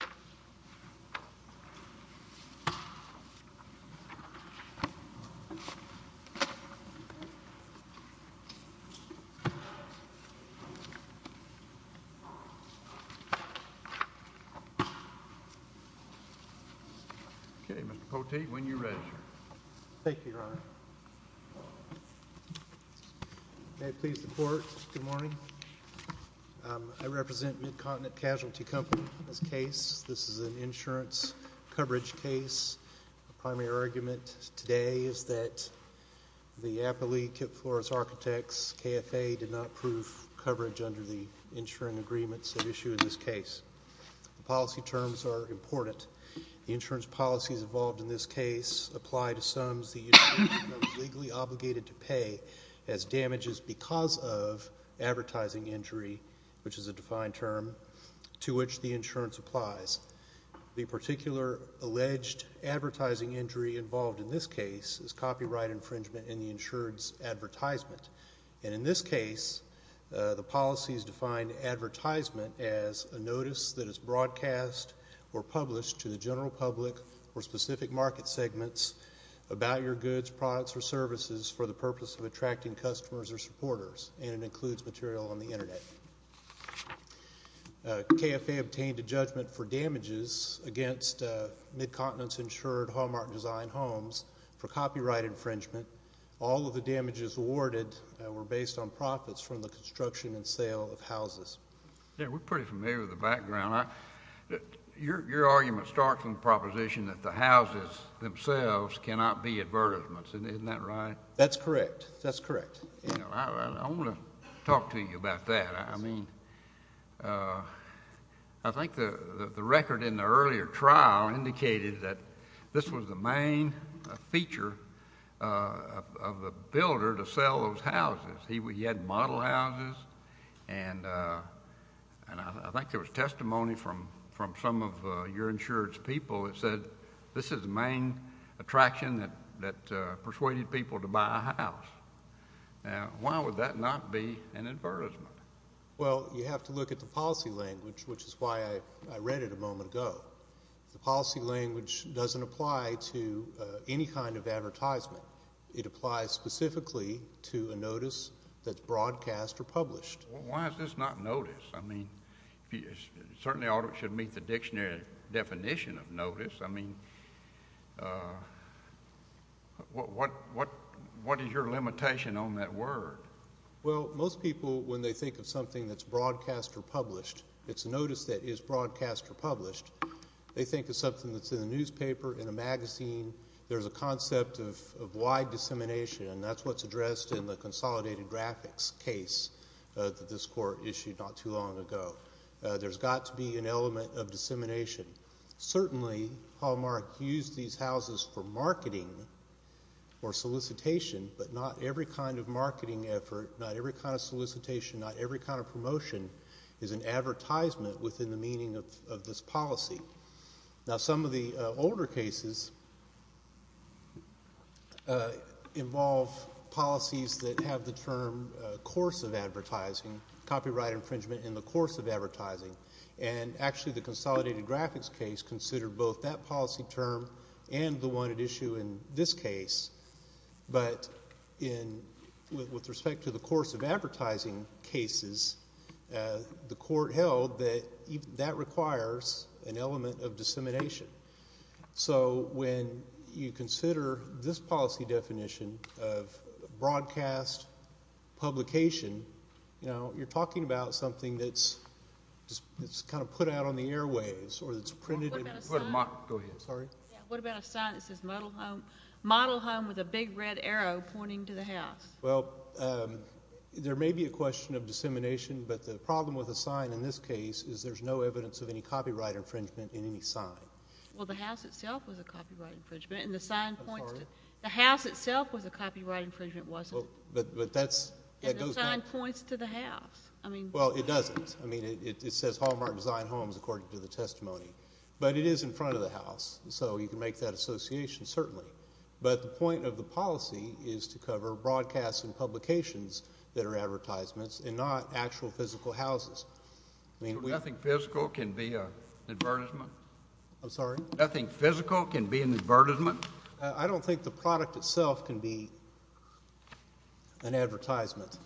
Mr. Poteet, when you are ready. Thank you, Your Honor. May it please the Court, Good morning. I represent Mid-Continent Casualty Company in this case. This is an insurance coverage case. The primary argument today is that the Appley-Kipp Flores Architects KFA did not approve coverage under the insurance agreements at issue in this case. The policy terms are important. The insurance policies involved in this case apply to sums the insurance coverage because of advertising injury, which is a defined term, to which the insurance applies. The particular alleged advertising injury involved in this case is copyright infringement in the insurance advertisement. And in this case, the policies define advertisement as a notice that is broadcast or published to the general public or specific market segments about your goods, products, or services for the purpose of attracting customers or supporters, and it includes material on the Internet. KFA obtained a judgment for damages against Mid-Continent's insured Hallmark Design homes for copyright infringement. All of the damages awarded were based on profits from the construction and sale of houses. Yeah, we're pretty familiar with the background. Your argument starts on the proposition that the houses themselves cannot be advertisements. Isn't that right? That's correct. That's correct. I want to talk to you about that. I mean, I think the record in the earlier trial indicated that this was the main feature of the builder to sell those houses. He had model houses, and I think there was testimony from some of your insured's people that said this is the main attraction that persuaded people to buy a house. Now, why would that not be an advertisement? Well, you have to look at the policy language, which is why I read it a moment ago. The policy language doesn't apply to any kind of advertisement. It applies specifically to a notice that's broadcast or published. Well, why is this not notice? I mean, certainly an audit should meet the dictionary definition of notice. I mean, what is your limitation on that word? Well, most people, when they think of something that's broadcast or published, it's a notice that is broadcast or published. They think of something that's in a newspaper, in a magazine. There's a concept of wide dissemination, and that's what's addressed in the consolidated graphics case that this court issued not too long ago. There's got to be an element of dissemination. Certainly, Hallmark used these houses for marketing or solicitation, but not every kind of marketing effort, not every kind of solicitation, not every kind of promotion is an advertisement within the meaning of this policy. Now, some of the older cases involve policies that have the term course of advertising, copyright infringement in the course of advertising, and actually the consolidated graphics case considered both that policy term and the one at issue in this case, but with respect to an element of dissemination. So, when you consider this policy definition of broadcast publication, you know, you're talking about something that's kind of put out on the airwaves or that's printed and put on mock. What about a sign that says model home with a big red arrow pointing to the house? Well, there may be a question of dissemination, but the problem with a sign in this case is there's no evidence of any copyright infringement in any sign. Well, the house itself was a copyright infringement, and the sign points to the house itself was a copyright infringement, wasn't it? But that's... And the sign points to the house. I mean... Well, it doesn't. I mean, it says Hallmark Design Homes according to the testimony, but it is in front of the house, so you can make that association, certainly, but the point of the policy is to cover broadcasts and publications that are advertisements and not actual physical houses. Nothing physical can be an advertisement? I'm sorry? Nothing physical can be an advertisement? I don't think the product itself can be an advertisement.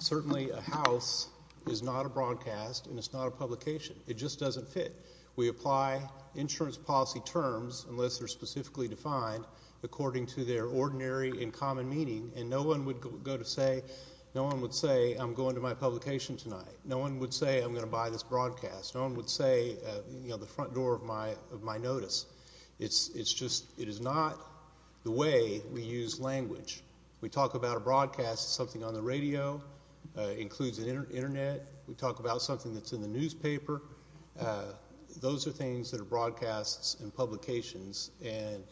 Certainly, a house is not a broadcast, and it's not a publication. It just doesn't fit. We apply insurance policy terms, unless they're specifically defined, according to their ordinary and common meaning, and no one would go to say... No one would say, I'm going to my publication tonight. No one would say, I'm going to buy this broadcast. No one would say, you know, the front door of my notice. It's just... It is not the way we use language. We talk about a broadcast as something on the radio, includes the internet. We talk about something that's in the newspaper. Those are things that are broadcasts and publications, and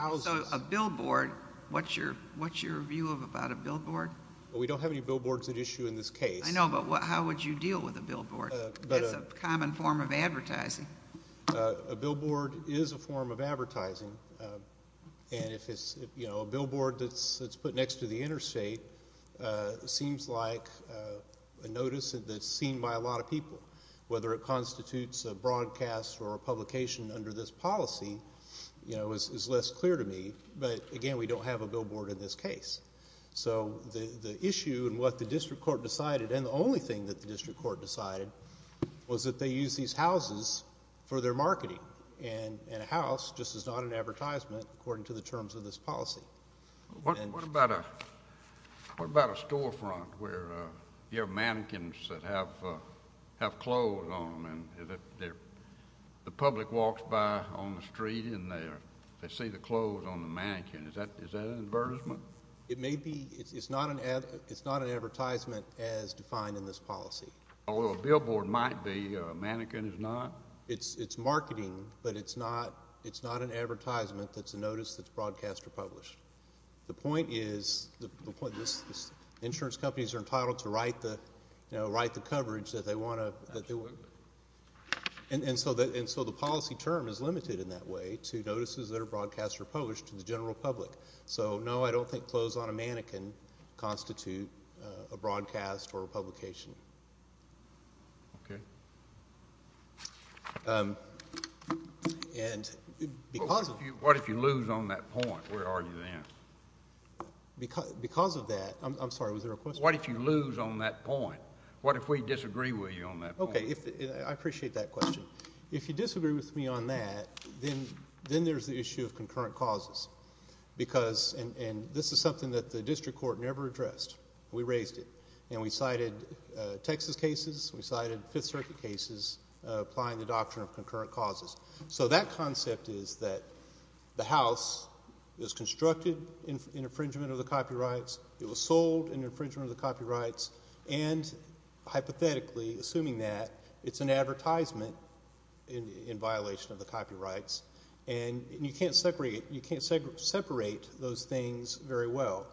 houses. A billboard, what's your view about a billboard? We don't have any billboards at issue in this case. I know, but how would you deal with a billboard? It's a common form of advertising. A billboard is a form of advertising, and if it's, you know, a billboard that's put next to the interstate, seems like a notice that's seen by a lot of people, whether it is here to me, but again, we don't have a billboard in this case. So, the issue in what the district court decided, and the only thing that the district court decided, was that they use these houses for their marketing, and a house just is not an advertisement according to the terms of this policy. What about a storefront where you have mannequins that have clothes on them, and the public walks by on the street and they see the clothes on the mannequin. Is that an advertisement? It may be. It's not an advertisement as defined in this policy. Although a billboard might be, a mannequin is not? It's marketing, but it's not an advertisement that's a notice that's broadcast or published. The point is, insurance companies are entitled to write the coverage that they want to, and so the policy term is limited in that way to notices that are broadcast or published to the general public. So, no, I don't think clothes on a mannequin constitute a broadcast or a publication. And because of... What if you lose on that point? Where are you then? Because of that, I'm sorry, was there a question? What if you lose on that point? What if we disagree with you on that point? Okay, I appreciate that question. If you disagree with me on that, then there's the issue of concurrent causes, because, and this is something that the district court never addressed. We raised it, and we cited Texas cases, we cited Fifth Circuit cases applying the doctrine of concurrent causes. So that concept is that the House is constructed in infringement of the copyrights, it was sold in infringement of the copyrights, and hypothetically, assuming that, it's an advertisement in violation of the copyrights, and you can't separate those things very well.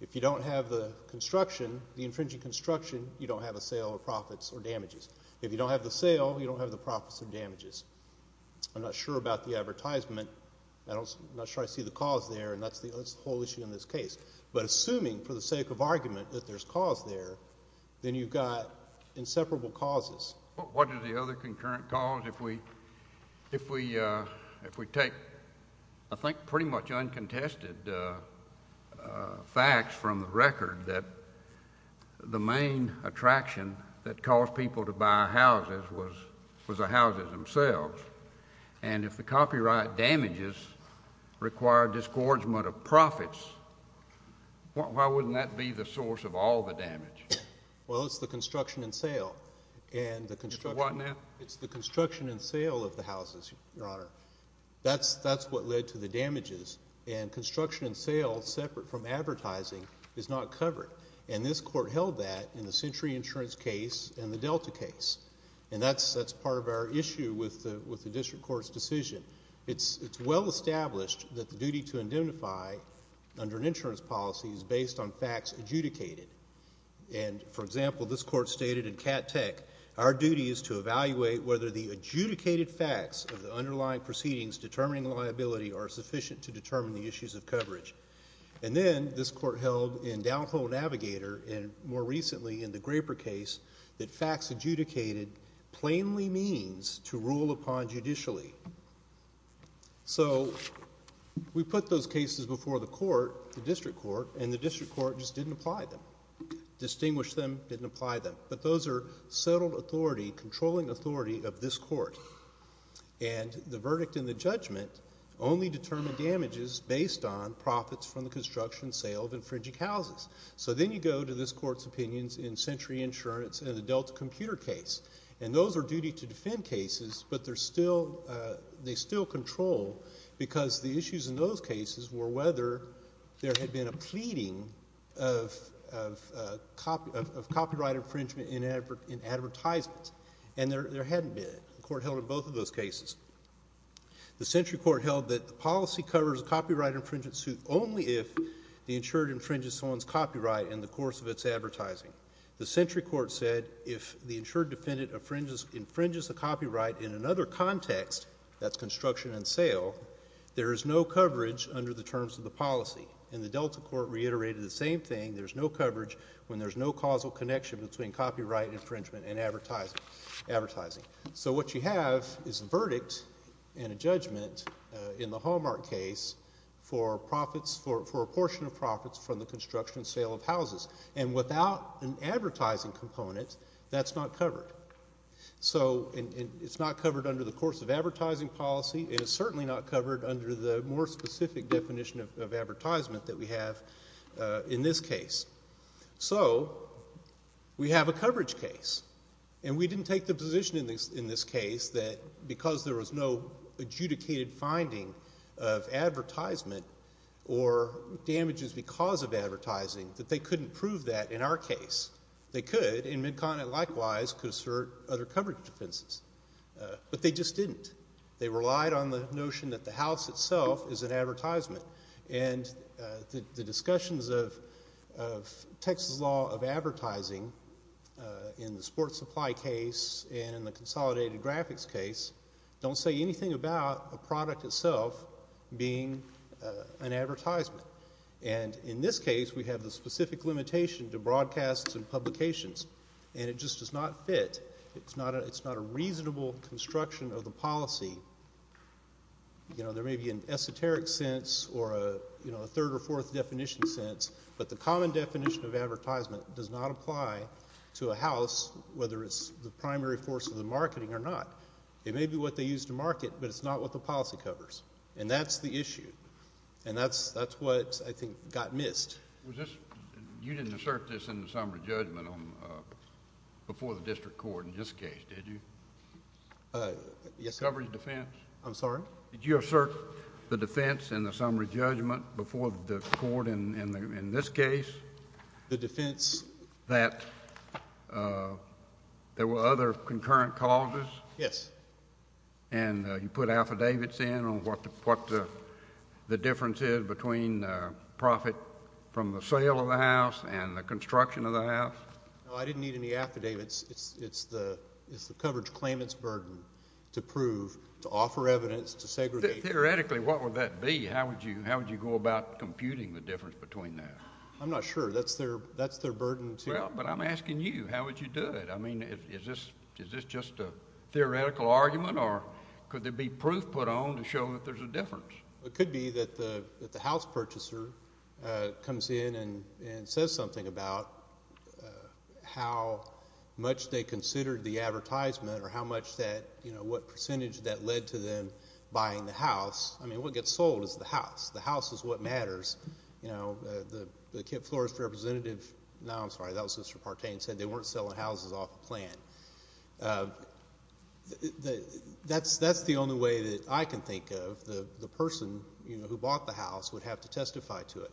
If you don't have the construction, the infringing construction, you don't have a sale of profits or damages. If you don't have the sale, you don't have the profits or damages. I'm not sure about the advertisement. I'm not sure I see the cause there, and that's the whole issue in this case. But assuming, for the most part, that's the case, then you've got inseparable causes. What is the other concurrent cause? If we take, I think, pretty much uncontested facts from the record that the main attraction that caused people to buy houses was the houses themselves, and if the copyright damages required disgorgement of profits, why wouldn't that be the source of all the damage? Well, it's the construction and sale. The what now? It's the construction and sale of the houses, Your Honor. That's what led to the damages, and construction and sale, separate from advertising, is not covered, and this Court held that in the Century Insurance case and the Delta case, and that's part of our issue with the District Court's decision. It's well established that the duty to indemnify under an insurance policy is based on facts adjudicated. And, for example, this Court stated in Catt Tech, our duty is to evaluate whether the adjudicated facts of the underlying proceedings determining liability are sufficient to determine the issues of coverage. And then, this Court held in Dalholl Navigator, and more recently in the Graper case, that facts adjudicated plainly means to rule upon judicially. So we put those cases before the Court, the District Court, and the District Court just didn't apply them. Distinguish them, didn't apply them. But those are settled authority, controlling authority of this Court. And the verdict and the judgment only determine damages based on profits from the construction and sale of infringing houses. So then you go to this Court's opinions in Century Insurance and the Delta Computer case, and those are duty to defend cases, but they're still, they still control because the issues in those cases were whether there had been a pleading of copyright infringement in advertisements. And there hadn't been. The Court held in both of those cases. The Century Court held that the policy covers a copyright infringement suit only if the insured infringes someone's copyright in the course of its advertising. The Century Court said if the insured defendant infringes a copyright in another context, that's construction and sale, there is no coverage under the terms of the policy. And the Delta Court reiterated the same thing. There's no coverage when there's no causal connection between copyright infringement and advertising. So what you have is a verdict and a judgment in the Hallmark case for profits, for a portion of profits from the construction and sale of houses. And without an advertising component, that's not covered. So it's not covered under the course of advertising policy. It is certainly not covered under the more specific definition of advertisement that we have in this case. So we have a coverage case. And we didn't take the position in this case that because there was no adjudicated finding of advertisement or damages because of advertising, that they couldn't prove that in our case. They could in MidContinent likewise because there are other coverage offenses. But they just didn't. They relied on the notion that the house itself is an advertisement. And the discussions of Texas law of advertising in the sports supply case and in the consolidated graphics case don't say anything about a product itself being an advertisement. And in this case, we have the specific limitation to broadcasts and publications. And it just does not fit. It's not a reasonable construction of the policy. You know, there may be an esoteric sense or a third or fourth definition sense. But the common definition of advertisement does not apply to a house, whether it's the primary force of the marketing or not. It may be what the market, but it's not what the policy covers. And that's the issue. And that's what I think got missed. You didn't assert this in the summary judgment before the district court in this case, did you? Yes, sir. Coverage defense? I'm sorry? Did you assert the defense in the summary judgment before the court in this case? The defense? That there were other concurrent causes? Yes. And you put affidavits in on what the difference is between profit from the sale of the house and the construction of the house? No, I didn't need any affidavits. It's the coverage claimant's burden to prove, to offer evidence, to segregate. Theoretically, what would that be? How would you go about computing the difference between that? I'm not sure. That's their burden, too. Well, but I'm asking you, how would you do it? I mean, is this just a theoretical argument? Or could there be proof put on to show that there's a difference? It could be that the house purchaser comes in and says something about how much they considered the advertisement or how much that, you know, what percentage that led to them buying the house. I mean, what gets sold is the house. The house is what matters. You know, I'm sorry, that was Mr. Partain, said they weren't selling houses off a plan. That's the only way that I can think of. The person, you know, who bought the house would have to testify to it.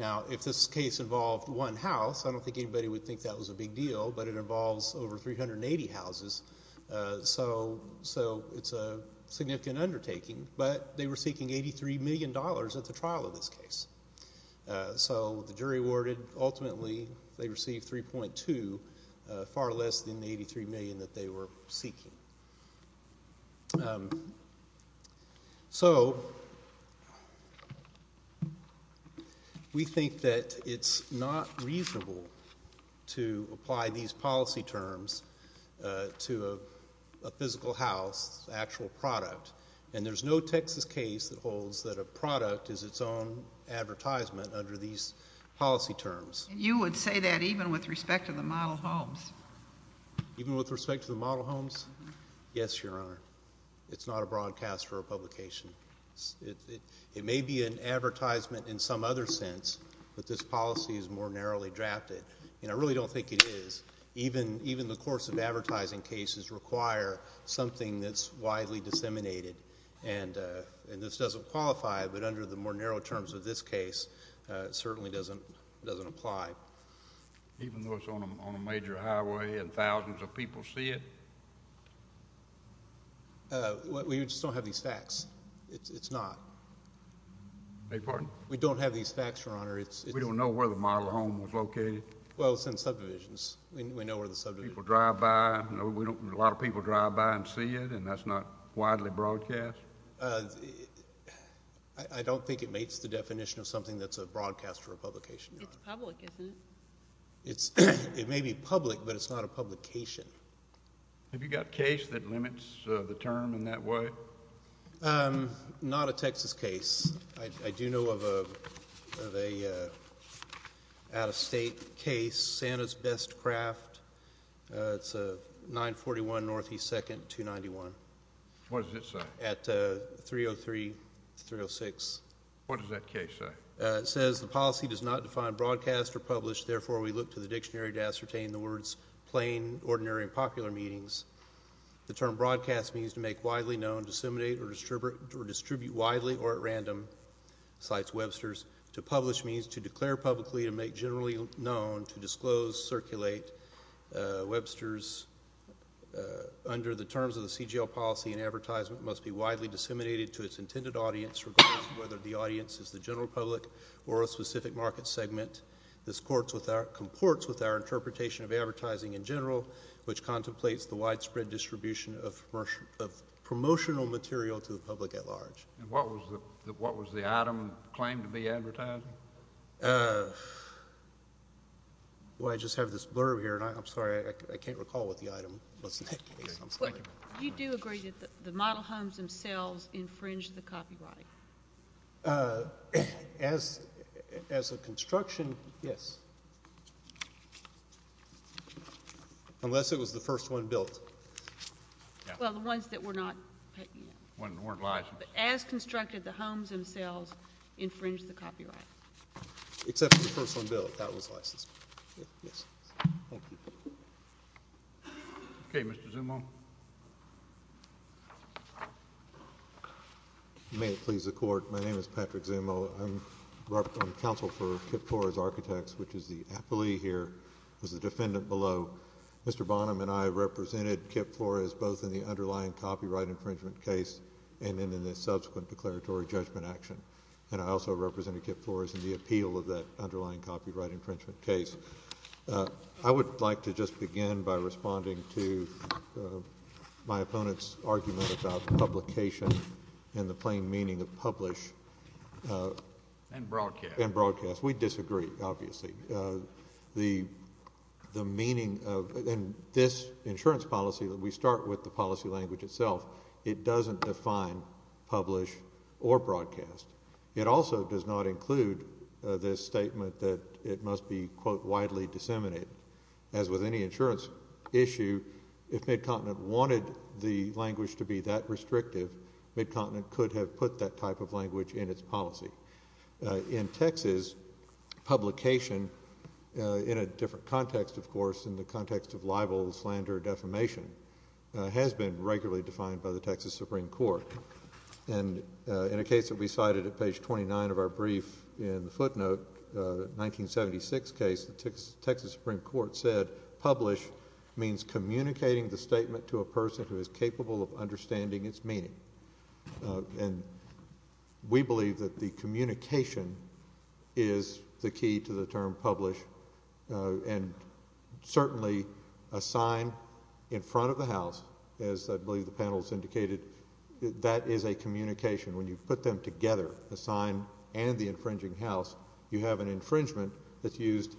Now, if this case involved one house, I don't think anybody would think that was a big deal, but it involves over 380 houses. So it's a significant undertaking. But they were seeking $83 million at the trial of this case. So the jury awarded, ultimately, they received 3.2, far less than the 83 million that they were seeking. So we think that it's not reasonable to apply these policy terms to a physical house, actual product. And there's no Texas case that holds that a product is its own advertisement under these policy terms. You would say that even with respect to the model homes? Even with respect to the model homes? Yes, Your Honor. It's not a broadcast or a publication. It may be an advertisement in some other sense, but this policy is more narrowly drafted. And I really don't think it is. Even the course of advertising cases require something that's widely disseminated. And this doesn't qualify, but under the more narrow terms of this case, it certainly doesn't apply. Even though it's on a major highway and thousands of people see it? We just don't have these facts. It's not. Beg your pardon? We don't have these facts, Your Honor. We don't know where the model home was located? Well, it's in subdivisions. We know where the subdivisions are. People drive by? A lot of people drive by and see it, and that's not widely broadcast? I don't think it meets the definition of something that's a broadcast or a publication, Your Honor. It's public, isn't it? It may be public, but it's not a publication. Have you got a case that limits the term in that way? Not a Texas case. I do know of an out-of-state case, Santa's Best Craft. It's a 941 Northeast 2nd, 291. What does it say? At 303-306. What does that case say? It says, the policy does not define broadcast or publish. Therefore, we look to the dictionary to ascertain the words plain, ordinary, and popular meanings. The term broadcast means to make widely known, disseminate, or distribute widely or at random, cites Webster's. To publish means to declare publicly, to make generally known, to disclose, circulate. Webster's, under the terms of the CGL policy in advertisement, must be widely disseminated to its intended audience regardless of whether the audience is the general public or a specific market segment. This comports with our interpretation of advertising in general, which contemplates the widespread distribution of promotional material to the public at large. What was the item claimed to be advertising? Well, I just have this blurb here, and I'm sorry. I can't recall what the item was in that case. I'm sorry. You do agree that the model homes themselves infringed the copyright? As a construction, yes. Unless it was the first one built. Well, the ones that were not patented. The ones that weren't licensed. As constructed, the homes themselves infringed the copyright. Except for the first one built. That was licensed. Yes. Okay, Mr. Zumo. May it please the Court. My name is Patrick Zumo. I'm counsel for Kip Flores Architects, which is the affilee here, who is the defendant below. Mr. Bonham and I represented Kip Flores both in the underlying copyright infringement case and then in the subsequent declaratory judgment action. And I also represented Kip Flores in the appeal of that underlying copyright infringement case. I would like to just begin by responding to my opponent's argument about publication and the plain meaning of publish. And broadcast. And broadcast. We disagree, obviously. The meaning of this insurance policy that we start with the policy language itself, it doesn't define publish or broadcast. It also does not include this statement that it must be, quote, widely disseminated. As with any insurance issue, if Mid-Continent wanted the language to be that restrictive, Mid-Continent could have put that type of language in its policy. In Texas, publication, in a different context, of course, in the context of libel, slander, defamation, has been regularly defined by the Texas Supreme Court. And in a case that we cited at page 29 of our brief in the footnote, 1976 case, the Texas Supreme Court said publish means communicating the statement to a person who is capable of understanding its meaning. And we believe that the communication is the key to the term publish and certainly a sign in front of the house, as I believe the panel has indicated, that is a communication. When you put them together, the sign and the infringing house, you have an infringement that's used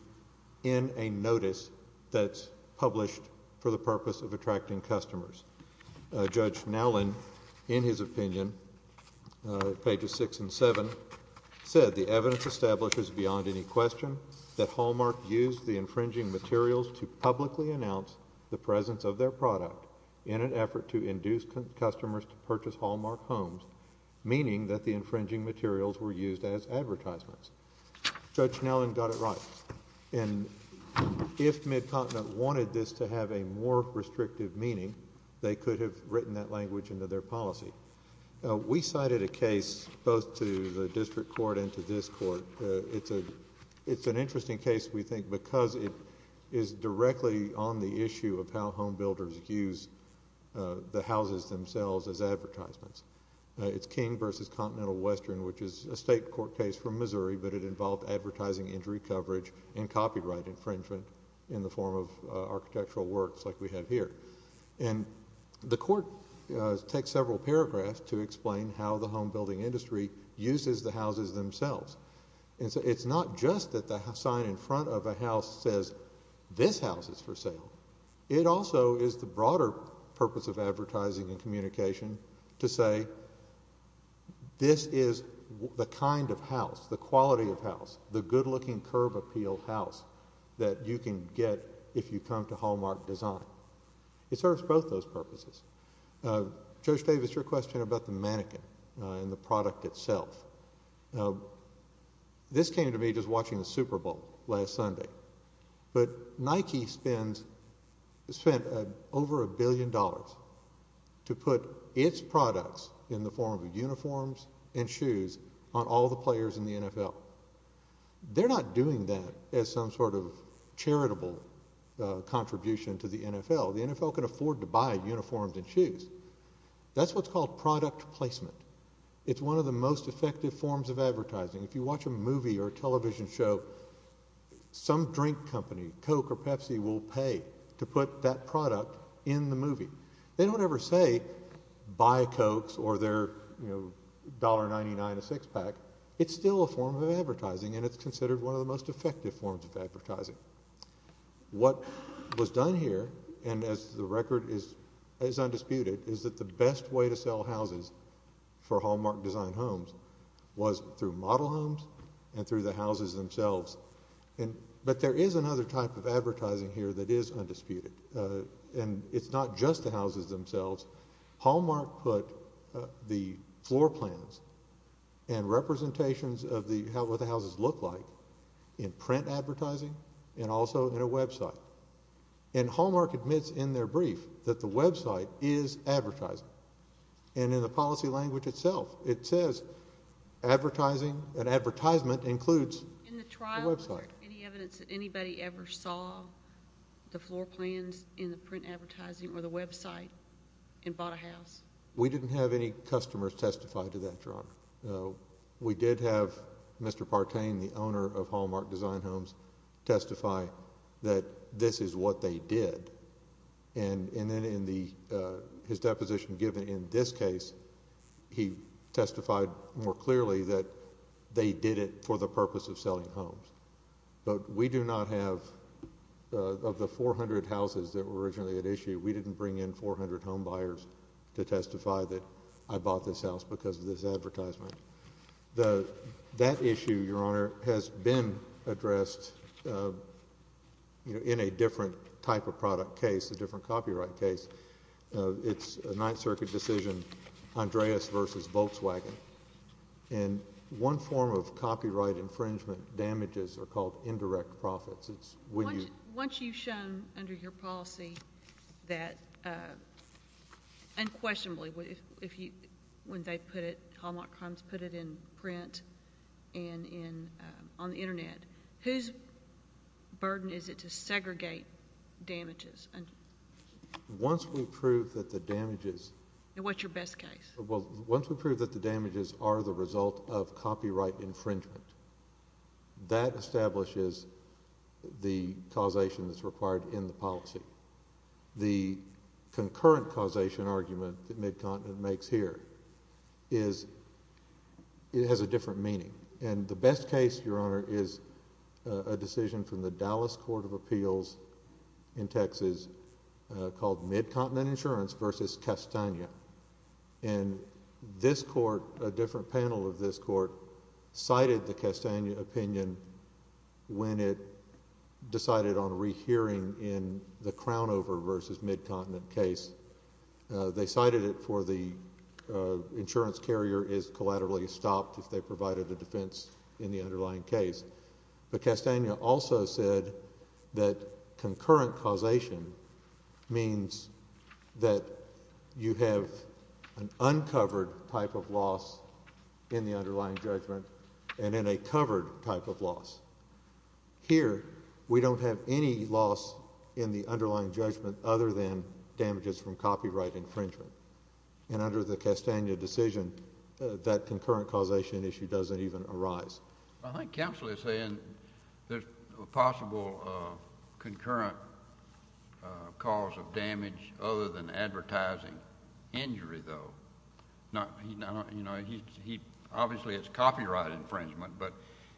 in a notice that's published for the purpose of attracting customers. Judge Nellen, in his opinion, pages 6 and 7, said the evidence established is beyond any question that Hallmark used the infringing materials to publicly announce the presence of their product in an effort to induce customers to purchase Hallmark homes, meaning that the infringing materials were used as advertisements. Judge Nellen got it right. And if Mid-Continent wanted this to have a more restrictive meaning, they could have written that language into their policy. We cited a case both to the district court and to this court. It's an interesting case, we think, because it is directly on the issue of how home builders use the houses themselves as advertisements. It's King v. Continental Western, which is a state court case from Missouri, but it involved advertising injury coverage and copyright infringement in the district. The court takes several paragraphs to explain how the home building industry uses the houses themselves. It's not just that the sign in front of a house says, this house is for sale. It also is the broader purpose of advertising and communication to say, this is the kind of house, the quality of house, the good-looking, curb-appeal house that you can get if you come to Hallmark Design. It serves both those purposes. Judge Davis, your question about the mannequin and the product itself. This came to me just watching the Super Bowl last Sunday. But Nike spent over a billion dollars to put its products in the form of uniforms and shoes on all the players in the NFL. They're not doing that as some sort of charitable contribution to the NFL. The NFL can afford to buy uniforms and shoes. That's what's called product placement. It's one of the most effective forms of advertising. If you watch a movie or television show, some drink company, Coke or Pepsi, will pay to put that product in the movie. They don't ever say, buy Cokes or their $1.99 a six-pack. It's still a form of advertising. It's considered one of the most effective forms of advertising. What was done here, and as the record is undisputed, is that the best way to sell houses for Hallmark Design homes was through model homes and through the houses themselves. But there is another type of advertising here that is undisputed. It's not just the houses themselves. Hallmark put the floor plans and representations of what the houses look like in print advertising and also in a website. Hallmark admits in their brief that the website is advertising. In the policy language itself, it says advertising and advertisement includes the website. In the trial, was there any evidence that anybody ever saw the floor plans in the print website? We didn't have any customers testify to that, Your Honor. We did have Mr. Partain, the owner of Hallmark Design Homes, testify that this is what they did. And then in his deposition given in this case, he testified more clearly that they did it for the purpose of selling homes. But we do not have, of the 400 houses that were originally at issue, we didn't bring in 400 homebuyers to testify that I bought this house because of this advertisement. That issue, Your Honor, has been addressed in a different type of product case, a different copyright case. It's a Ninth Circuit decision, Andreas v. Volkswagen. And one form of copyright infringement damages are called indirect profits. Once you've shown under your policy that, unquestionably, when they put it, Hallmark Crimes put it in print and on the Internet, whose burden is it to segregate damages? Once we prove that the damages And what's your best case? Well, once we prove that the damages are the result of copyright infringement, that establishes the causation that's required in the policy. The concurrent causation argument that MidContinent makes here is, it has a different meaning. And the best case, Your Honor, is a decision from the Dallas Court of Appeals in Texas called MidContinent Insurance v. Castaña. And this court, a different panel of this court, cited the Castaña opinion when it decided on rehearing in the Crownover v. MidContinent case. They cited it for the insurance carrier is collaterally stopped if they provided a defense in the underlying case. But Castaña also said that concurrent causation means that you have an uncovered type of loss in the underlying judgment and then a covered type of loss. Here, we don't have any loss in the underlying judgment other than damages from copyright infringement. And under the Castaña decision, that concurrent causation issue doesn't even arise. I think counsel is saying there's a possible concurrent cause of damage other than advertising injury, though. Obviously, it's copyright infringement, but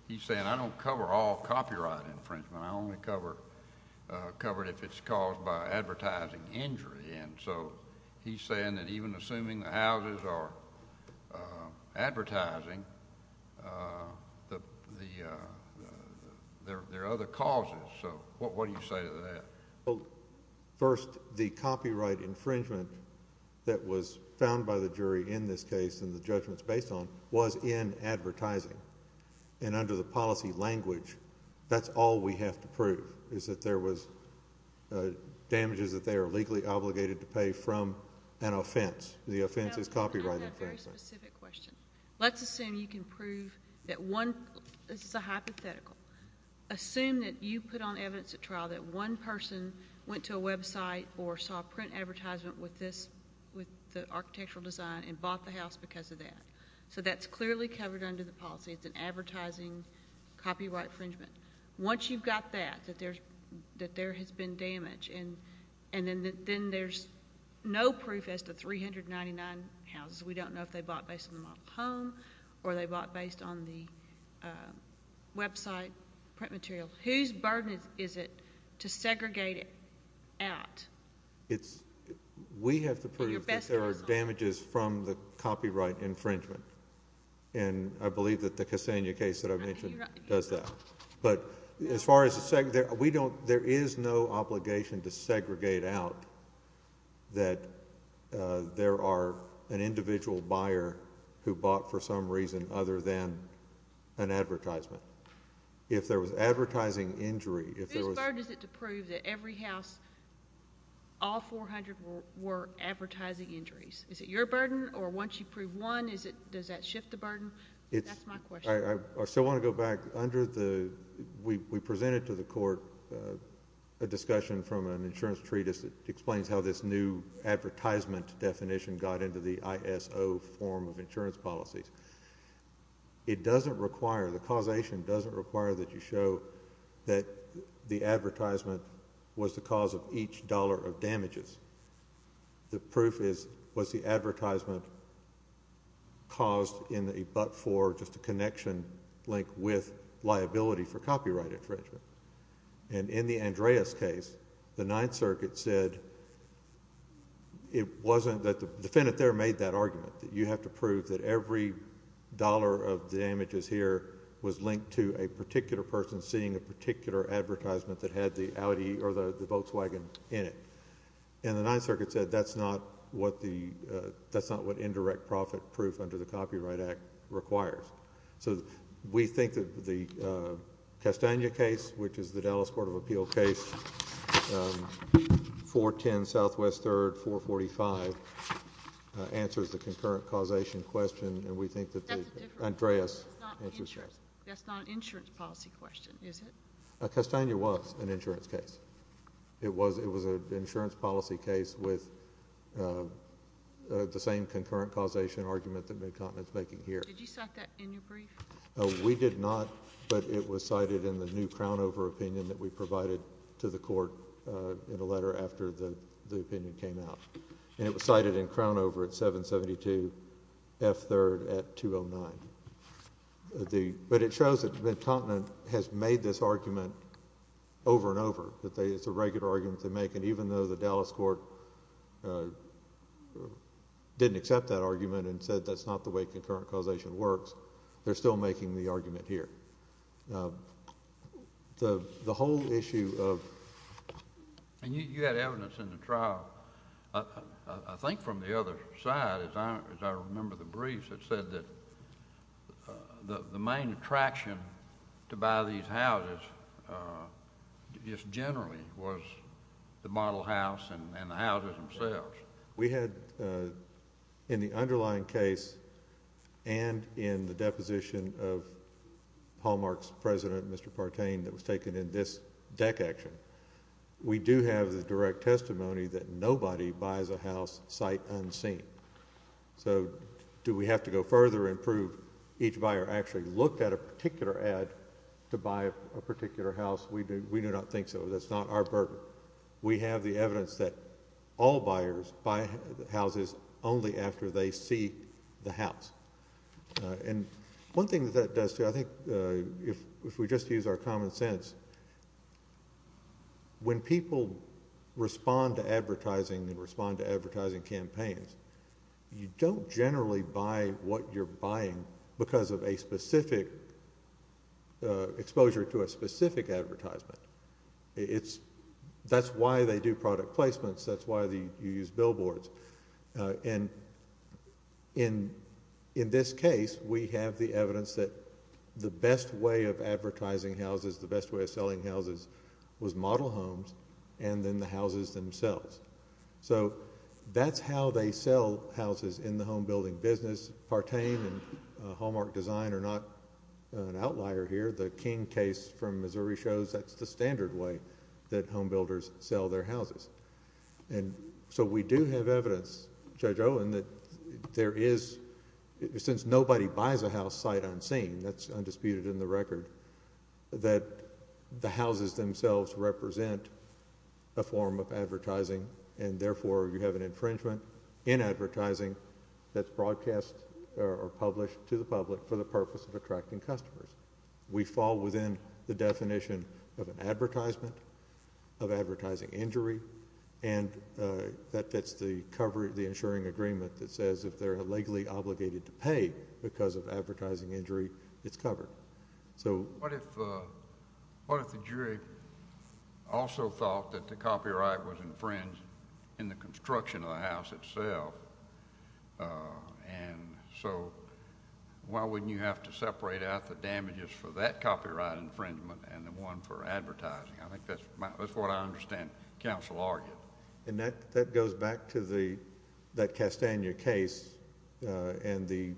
he's saying, I don't cover all copyright infringement. I only cover it if it's caused by advertising injury. And so he's saying that even assuming the houses are advertising, there are other causes. So what do you say to that? Well, first, the copyright infringement that was found by the jury in this case and the judgment's based on was in advertising. And under the policy language, that's all we have to prove, is that there was damages that they are legally obligated to pay from an offense. The offense is copyright infringement. I have a very specific question. Let's assume you can prove that one—this is a hypothetical—assume that you put on evidence at trial that one person went to a website or saw a print advertisement with this, with the architectural design, and bought the house because of that. So that's clearly covered under the policy. It's an advertising copyright infringement. Once you've got that, that there has been damage, and then there's no proof as to 399 houses. We don't know if they bought based on the model home or they bought based on the website print material. Whose burden is it to segregate it out? We have to prove that there are damages from the copyright infringement. And I believe that the Ksenia case that I mentioned does that. But as far as the—we don't—there is no obligation to segregate out that there are an individual buyer who bought for some reason other than an advertisement. If there was advertising injury— Whose burden is it to prove that every house, all 400 were advertising injuries? Is it your burden or once you prove one, does that shift the burden? That's my question. I still want to go back. Under the—we presented to the court a discussion from an insurance treatise that explains how this new advertisement definition got into the ISO form of insurance policies. It doesn't require—the causation doesn't require that you show that the advertisement was the cause of each dollar of damages. The proof is was the advertisement caused in a but for just a connection link with liability for copyright infringement. And in the Andreas case, the Ninth Circuit said it wasn't—that the defendant there made that argument, that every dollar of damages here was linked to a particular person seeing a particular advertisement that had the Audi or the Volkswagen in it. And the Ninth Circuit said that's not what the—that's not what indirect profit proof under the Copyright Act requires. So we think that the Ksenia case, which is the Dallas Court of Appeal case, 410 Southwest 3rd, 445, answers the concurrent causation question, and we think that the Andreas answers that. That's not an insurance policy question, is it? Ksenia was an insurance case. It was an insurance policy case with the same concurrent causation argument that Midcontinent is making here. Did you cite that in your brief? We did not, but it was cited in the new Crown Over opinion that we provided to the court in a letter after the opinion came out. And it was cited in Crown Over at 772 F. 3rd at 209. But it shows that Midcontinent has made this argument over and over, that it's a regular argument they make. And even though the Dallas Court didn't accept that argument and said that's not the way concurrent causation works, they're still making the argument here. The whole issue of— You had evidence in the trial, I think from the other side, as I remember the briefs that said that the main attraction to buy these houses just generally was the model house and the houses themselves. We had in the underlying case and in the deposition of Hallmark's president, Mr. Partain, that was taken in this DEC action, we do have the direct testimony that nobody buys a house sight unseen. So do we have to go further and prove each buyer actually looked at a particular ad to buy a particular house? We do not think so. That's not our burden. We have the evidence that all buyers buy houses only after they see the house. And one thing that that does too, I think if we just use our common sense, when people respond to advertising and respond to advertising campaigns, you don't generally buy what you're buying because of a specific exposure to a specific advertisement. That's why they do product placements. That's why you use billboards. And in this case, we have the evidence that the best way of advertising houses, the best way of selling houses, was model homes and then the houses themselves. So that's how they sell houses in the home building business. Partain and Hallmark Design are not an outlier here. The King case from the best way to sell their houses. And so we do have evidence, Judge Owen, that there is, since nobody buys a house sight unseen, that's undisputed in the record, that the houses themselves represent a form of advertising and therefore you have an infringement in advertising injury. And that's the cover of the insuring agreement that says if they're legally obligated to pay because of advertising injury, it's covered. So what if the jury also thought that the copyright was infringed in the construction of the house itself? And so why wouldn't you have to separate out the damages for that infringement? And that goes back to that Castagna case and the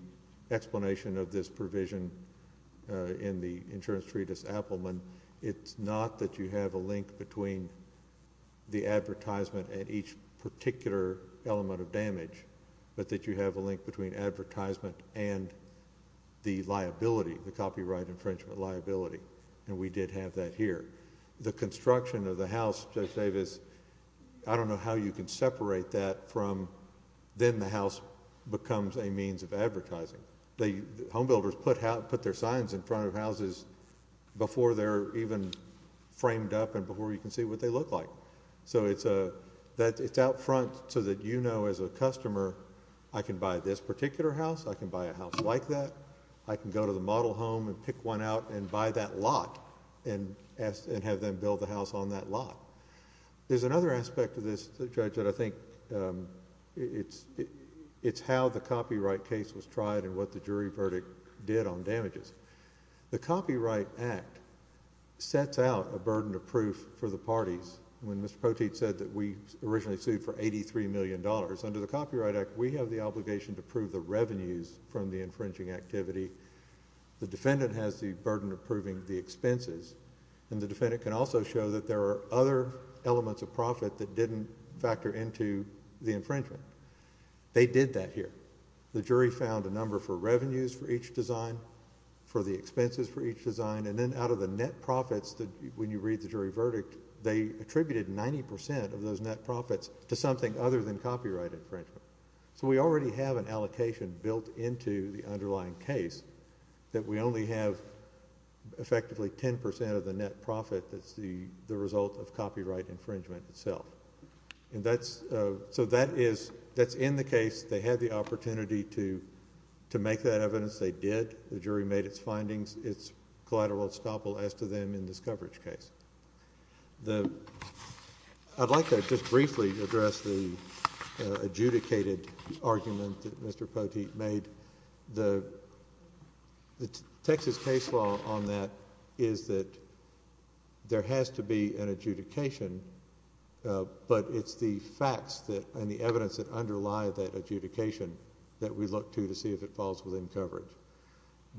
explanation of this provision in the insurance treatise Appelman. It's not that you have a link between the advertisement and each particular element of damage, but that you have a link between advertisement and the liability, the copyright infringement liability. And we did have that here. The construction of the house, Judge Davis, I don't know how you can separate that from then the house becomes a means of advertising. The home builders put their signs in front of houses before they're even framed up and before you can see what they look like. So it's out front so that you know as a customer, I can buy this particular house, I can buy a model home and pick one out and buy that lot and have them build the house on that lot. There's another aspect of this, Judge, that I think it's how the copyright case was tried and what the jury verdict did on damages. The Copyright Act sets out a burden of proof for the parties. When Mr. Poteet said that we originally sued for $83 million, under the Copyright Act, we have the obligation to prove the revenues from the infringing activity. The defendant has the burden of proving the expenses and the defendant can also show that there are other elements of profit that didn't factor into the infringement. They did that here. The jury found a number for revenues for each design, for the expenses for each design, and then out of the net profits that when you read the jury verdict, they already have an allocation built into the underlying case that we only have effectively 10% of the net profit that's the result of copyright infringement itself. So that's in the case. They had the opportunity to make that evidence. They did. The jury made its findings. It's collateral estoppel as to them in this coverage case. I'd like to just briefly address the adjudicated argument that Mr. Poteet made. The Texas case law on that is that there has to be an adjudication, but it's the facts and the evidence that underlie that adjudication that we look to to see if it falls within coverage.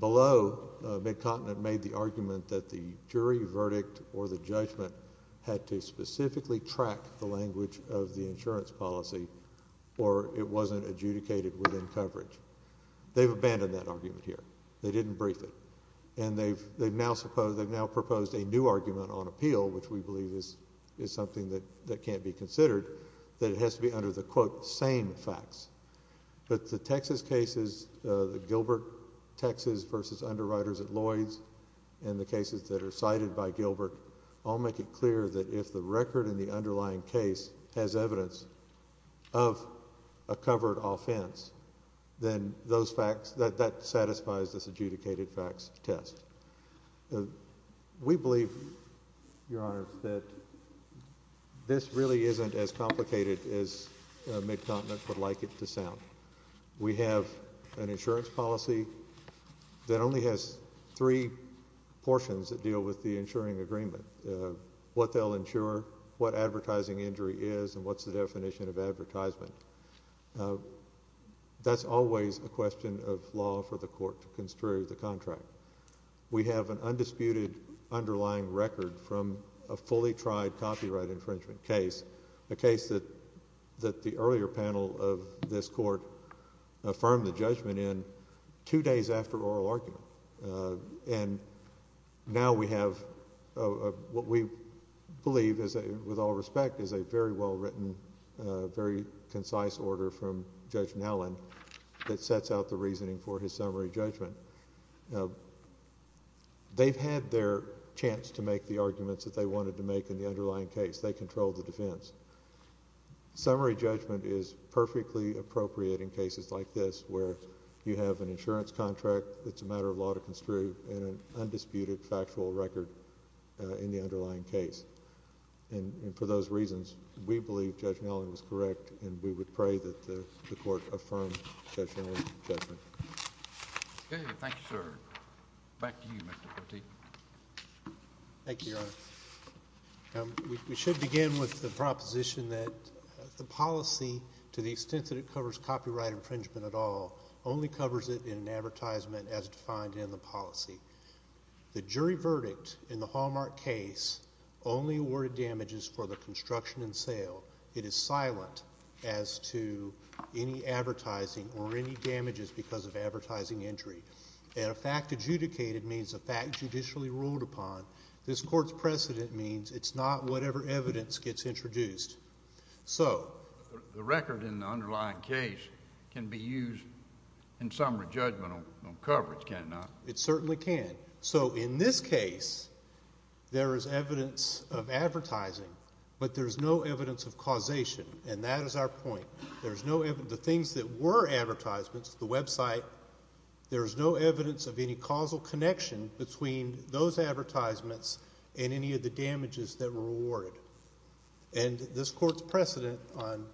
Below, MidContinent made the argument that the jury verdict or the judgment had to specifically track the language of the insurance policy or it wasn't adjudicated within coverage. They've abandoned that argument here. They didn't brief it, and they've now proposed a new argument on appeal, which we believe is something that can't be considered, that it has to be under the, quote, same facts. But the Texas cases, the Gilbert, Texas v. Underwriters at Lloyd's, and the cases that are cited by Gilbert all make it clear that if the record in the underlying case has evidence of a covered offense, then those facts, that satisfies this adjudicated facts test. We believe, Your Honors, that this really isn't as complicated as MidContinent would like it to sound. We have an insurance policy that only has three portions that deal with the insuring agreement, what they'll insure, what advertising injury is, and what's the definition of advertisement. That's always a question of law for the court to construe the contract. We have an undisputed underlying record from a fully tried copyright infringement case, a case that the earlier panel of this Court affirmed the judgment in two days after oral argument. And now we have what we believe is, with all respect, is a very well-written, very concise order from Judge Nellen that sets out the reasoning for his summary judgment. They've had their chance to make the arguments that they wanted to make in the underlying case. They control the defense. Summary judgment is perfectly appropriate in cases like this where you have an insurance contract that's a matter of law to construe and an undisputed factual record in the underlying case. And for those reasons, we believe Judge Nellen was correct, and we would pray that the Court affirm Judge Nellen's judgment. Okay. Thank you, sir. Back to you, Mr. Poteet. Thank you, Your Honor. We should begin with the proposition that the policy, to the extent that it covers copyright infringement at all, only covers it in an advertisement as defined in the policy. The jury verdict in the Hallmark case only awarded damages for the construction and sale. It is silent as to any advertising or any damages because of advertising injury. And a fact adjudicated means a fact judicially ruled upon. This Court's precedent means it's not whatever evidence gets introduced. So... The record in the underlying case can be used in summary judgment on coverage, can it not? It certainly can. So in this case, there is evidence of advertising, but there's no evidence of causation. And that is our point. There's no evidence. The things that were advertisements, the website, there's no evidence of any causal connection between those advertisements and any of the damages that were awarded. And this Court's precedent on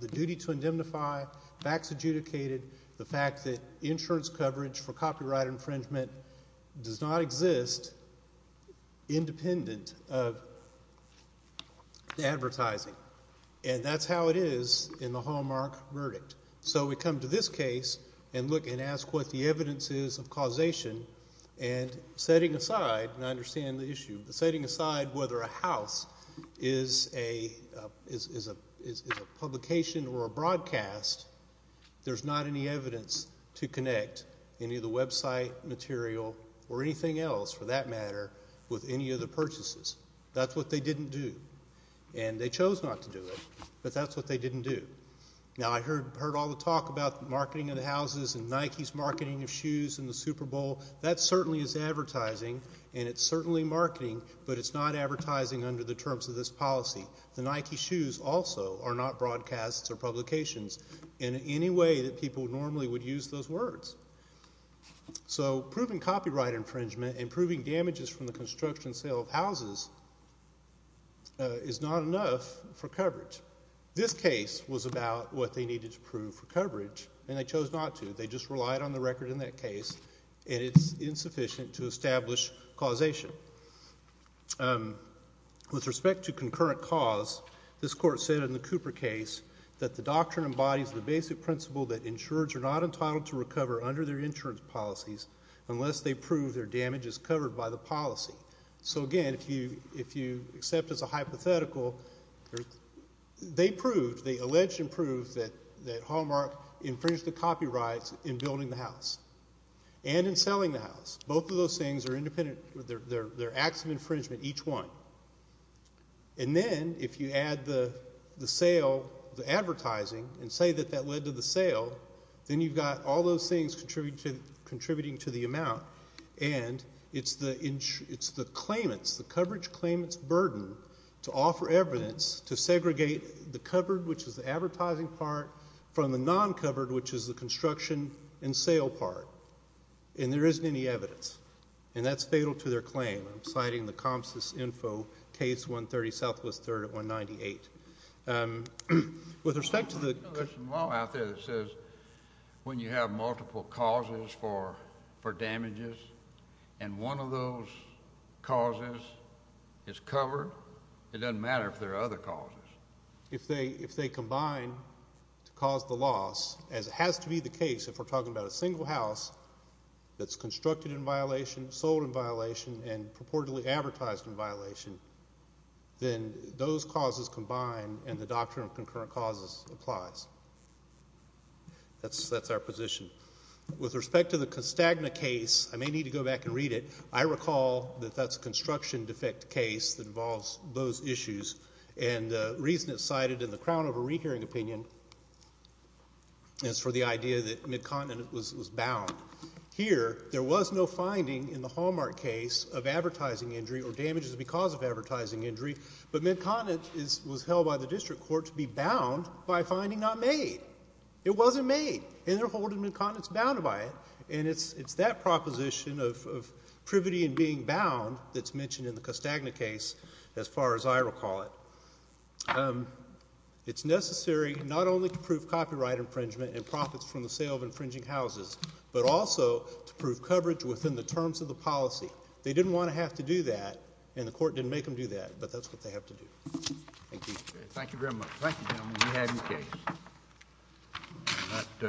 the duty to indemnify, facts adjudicated, the fact that insurance coverage for copyright infringement does not exist independent of the advertising. And that's how it is in the Hallmark verdict. So we come to this case and look and ask what the evidence is of causation. And setting aside, and I understand the issue, but setting aside whether a house is a publication or a broadcast, there's not any evidence to connect any of the website material or anything else for that matter with any of the purchases. That's what they didn't do. And they chose not to do it, but that's what they didn't do. Now, I heard all the talk about marketing of the houses and Nike's marketing of shoes in the Super Bowl. That certainly is advertising, and it's certainly marketing, but it's not advertising under the terms of this policy. The Nike shoes also are not broadcasts or publications in any way that people normally would use those words. So proving copyright infringement and proving damages from the house for coverage. This case was about what they needed to prove for coverage, and they chose not to. They just relied on the record in that case, and it's insufficient to establish causation. With respect to concurrent cause, this Court said in the Cooper case that the doctrine embodies the basic principle that insurers are not entitled to recover under their insurance policies unless they prove their damages covered by the policy. So again, if you accept as a hypothetical, they proved, they alleged and proved that Hallmark infringed the copyrights in building the house and in selling the house. Both of those things are independent. They're acts of infringement, each one. And then if you add the sale, the advertising, and say that that led to the sale, then you've got all those things contributing to the amount. And it's the claimants, the coverage claimants' burden to offer evidence to segregate the covered, which is the advertising part, from the non-covered, which is the construction and sale part. And there isn't any evidence. And that's fatal to their claim. I'm citing the Comstas Info, Case 130, Southwest 3rd at 198. There's some law out there that says when you have multiple causes for damages and one of those causes is covered, it doesn't matter if there are other causes. If they combine to cause the loss, as has to be the case if we're talking about a single house that's constructed in violation, sold in violation, and purportedly advertised in violation, then those causes combine and the doctrine of concurrent causes applies. That's our position. With respect to the Costagna case, I may need to go back and read it. I recall that that's a construction defect case that involves those issues. And the reason it's cited in the Crown over Rehearing Opinion is for the idea that Mid-Continent was bound. Here, there was no finding in the Hallmark case of advertising injury or damages because of advertising injury, but Mid-Continent was held by the District Court to be bound by a finding not made. It wasn't made. And they're holding Mid-Continent's bounded by it. And it's that proposition of privity and being bound that's mentioned in the Costagna case, as far as I recall it. It's necessary not only to prove copyright infringement and profits from the sale of infringing houses, but also to prove coverage within the terms of the policy. They didn't want to have to do that, and the Court didn't make them do that, but that's what they have to do. Thank you.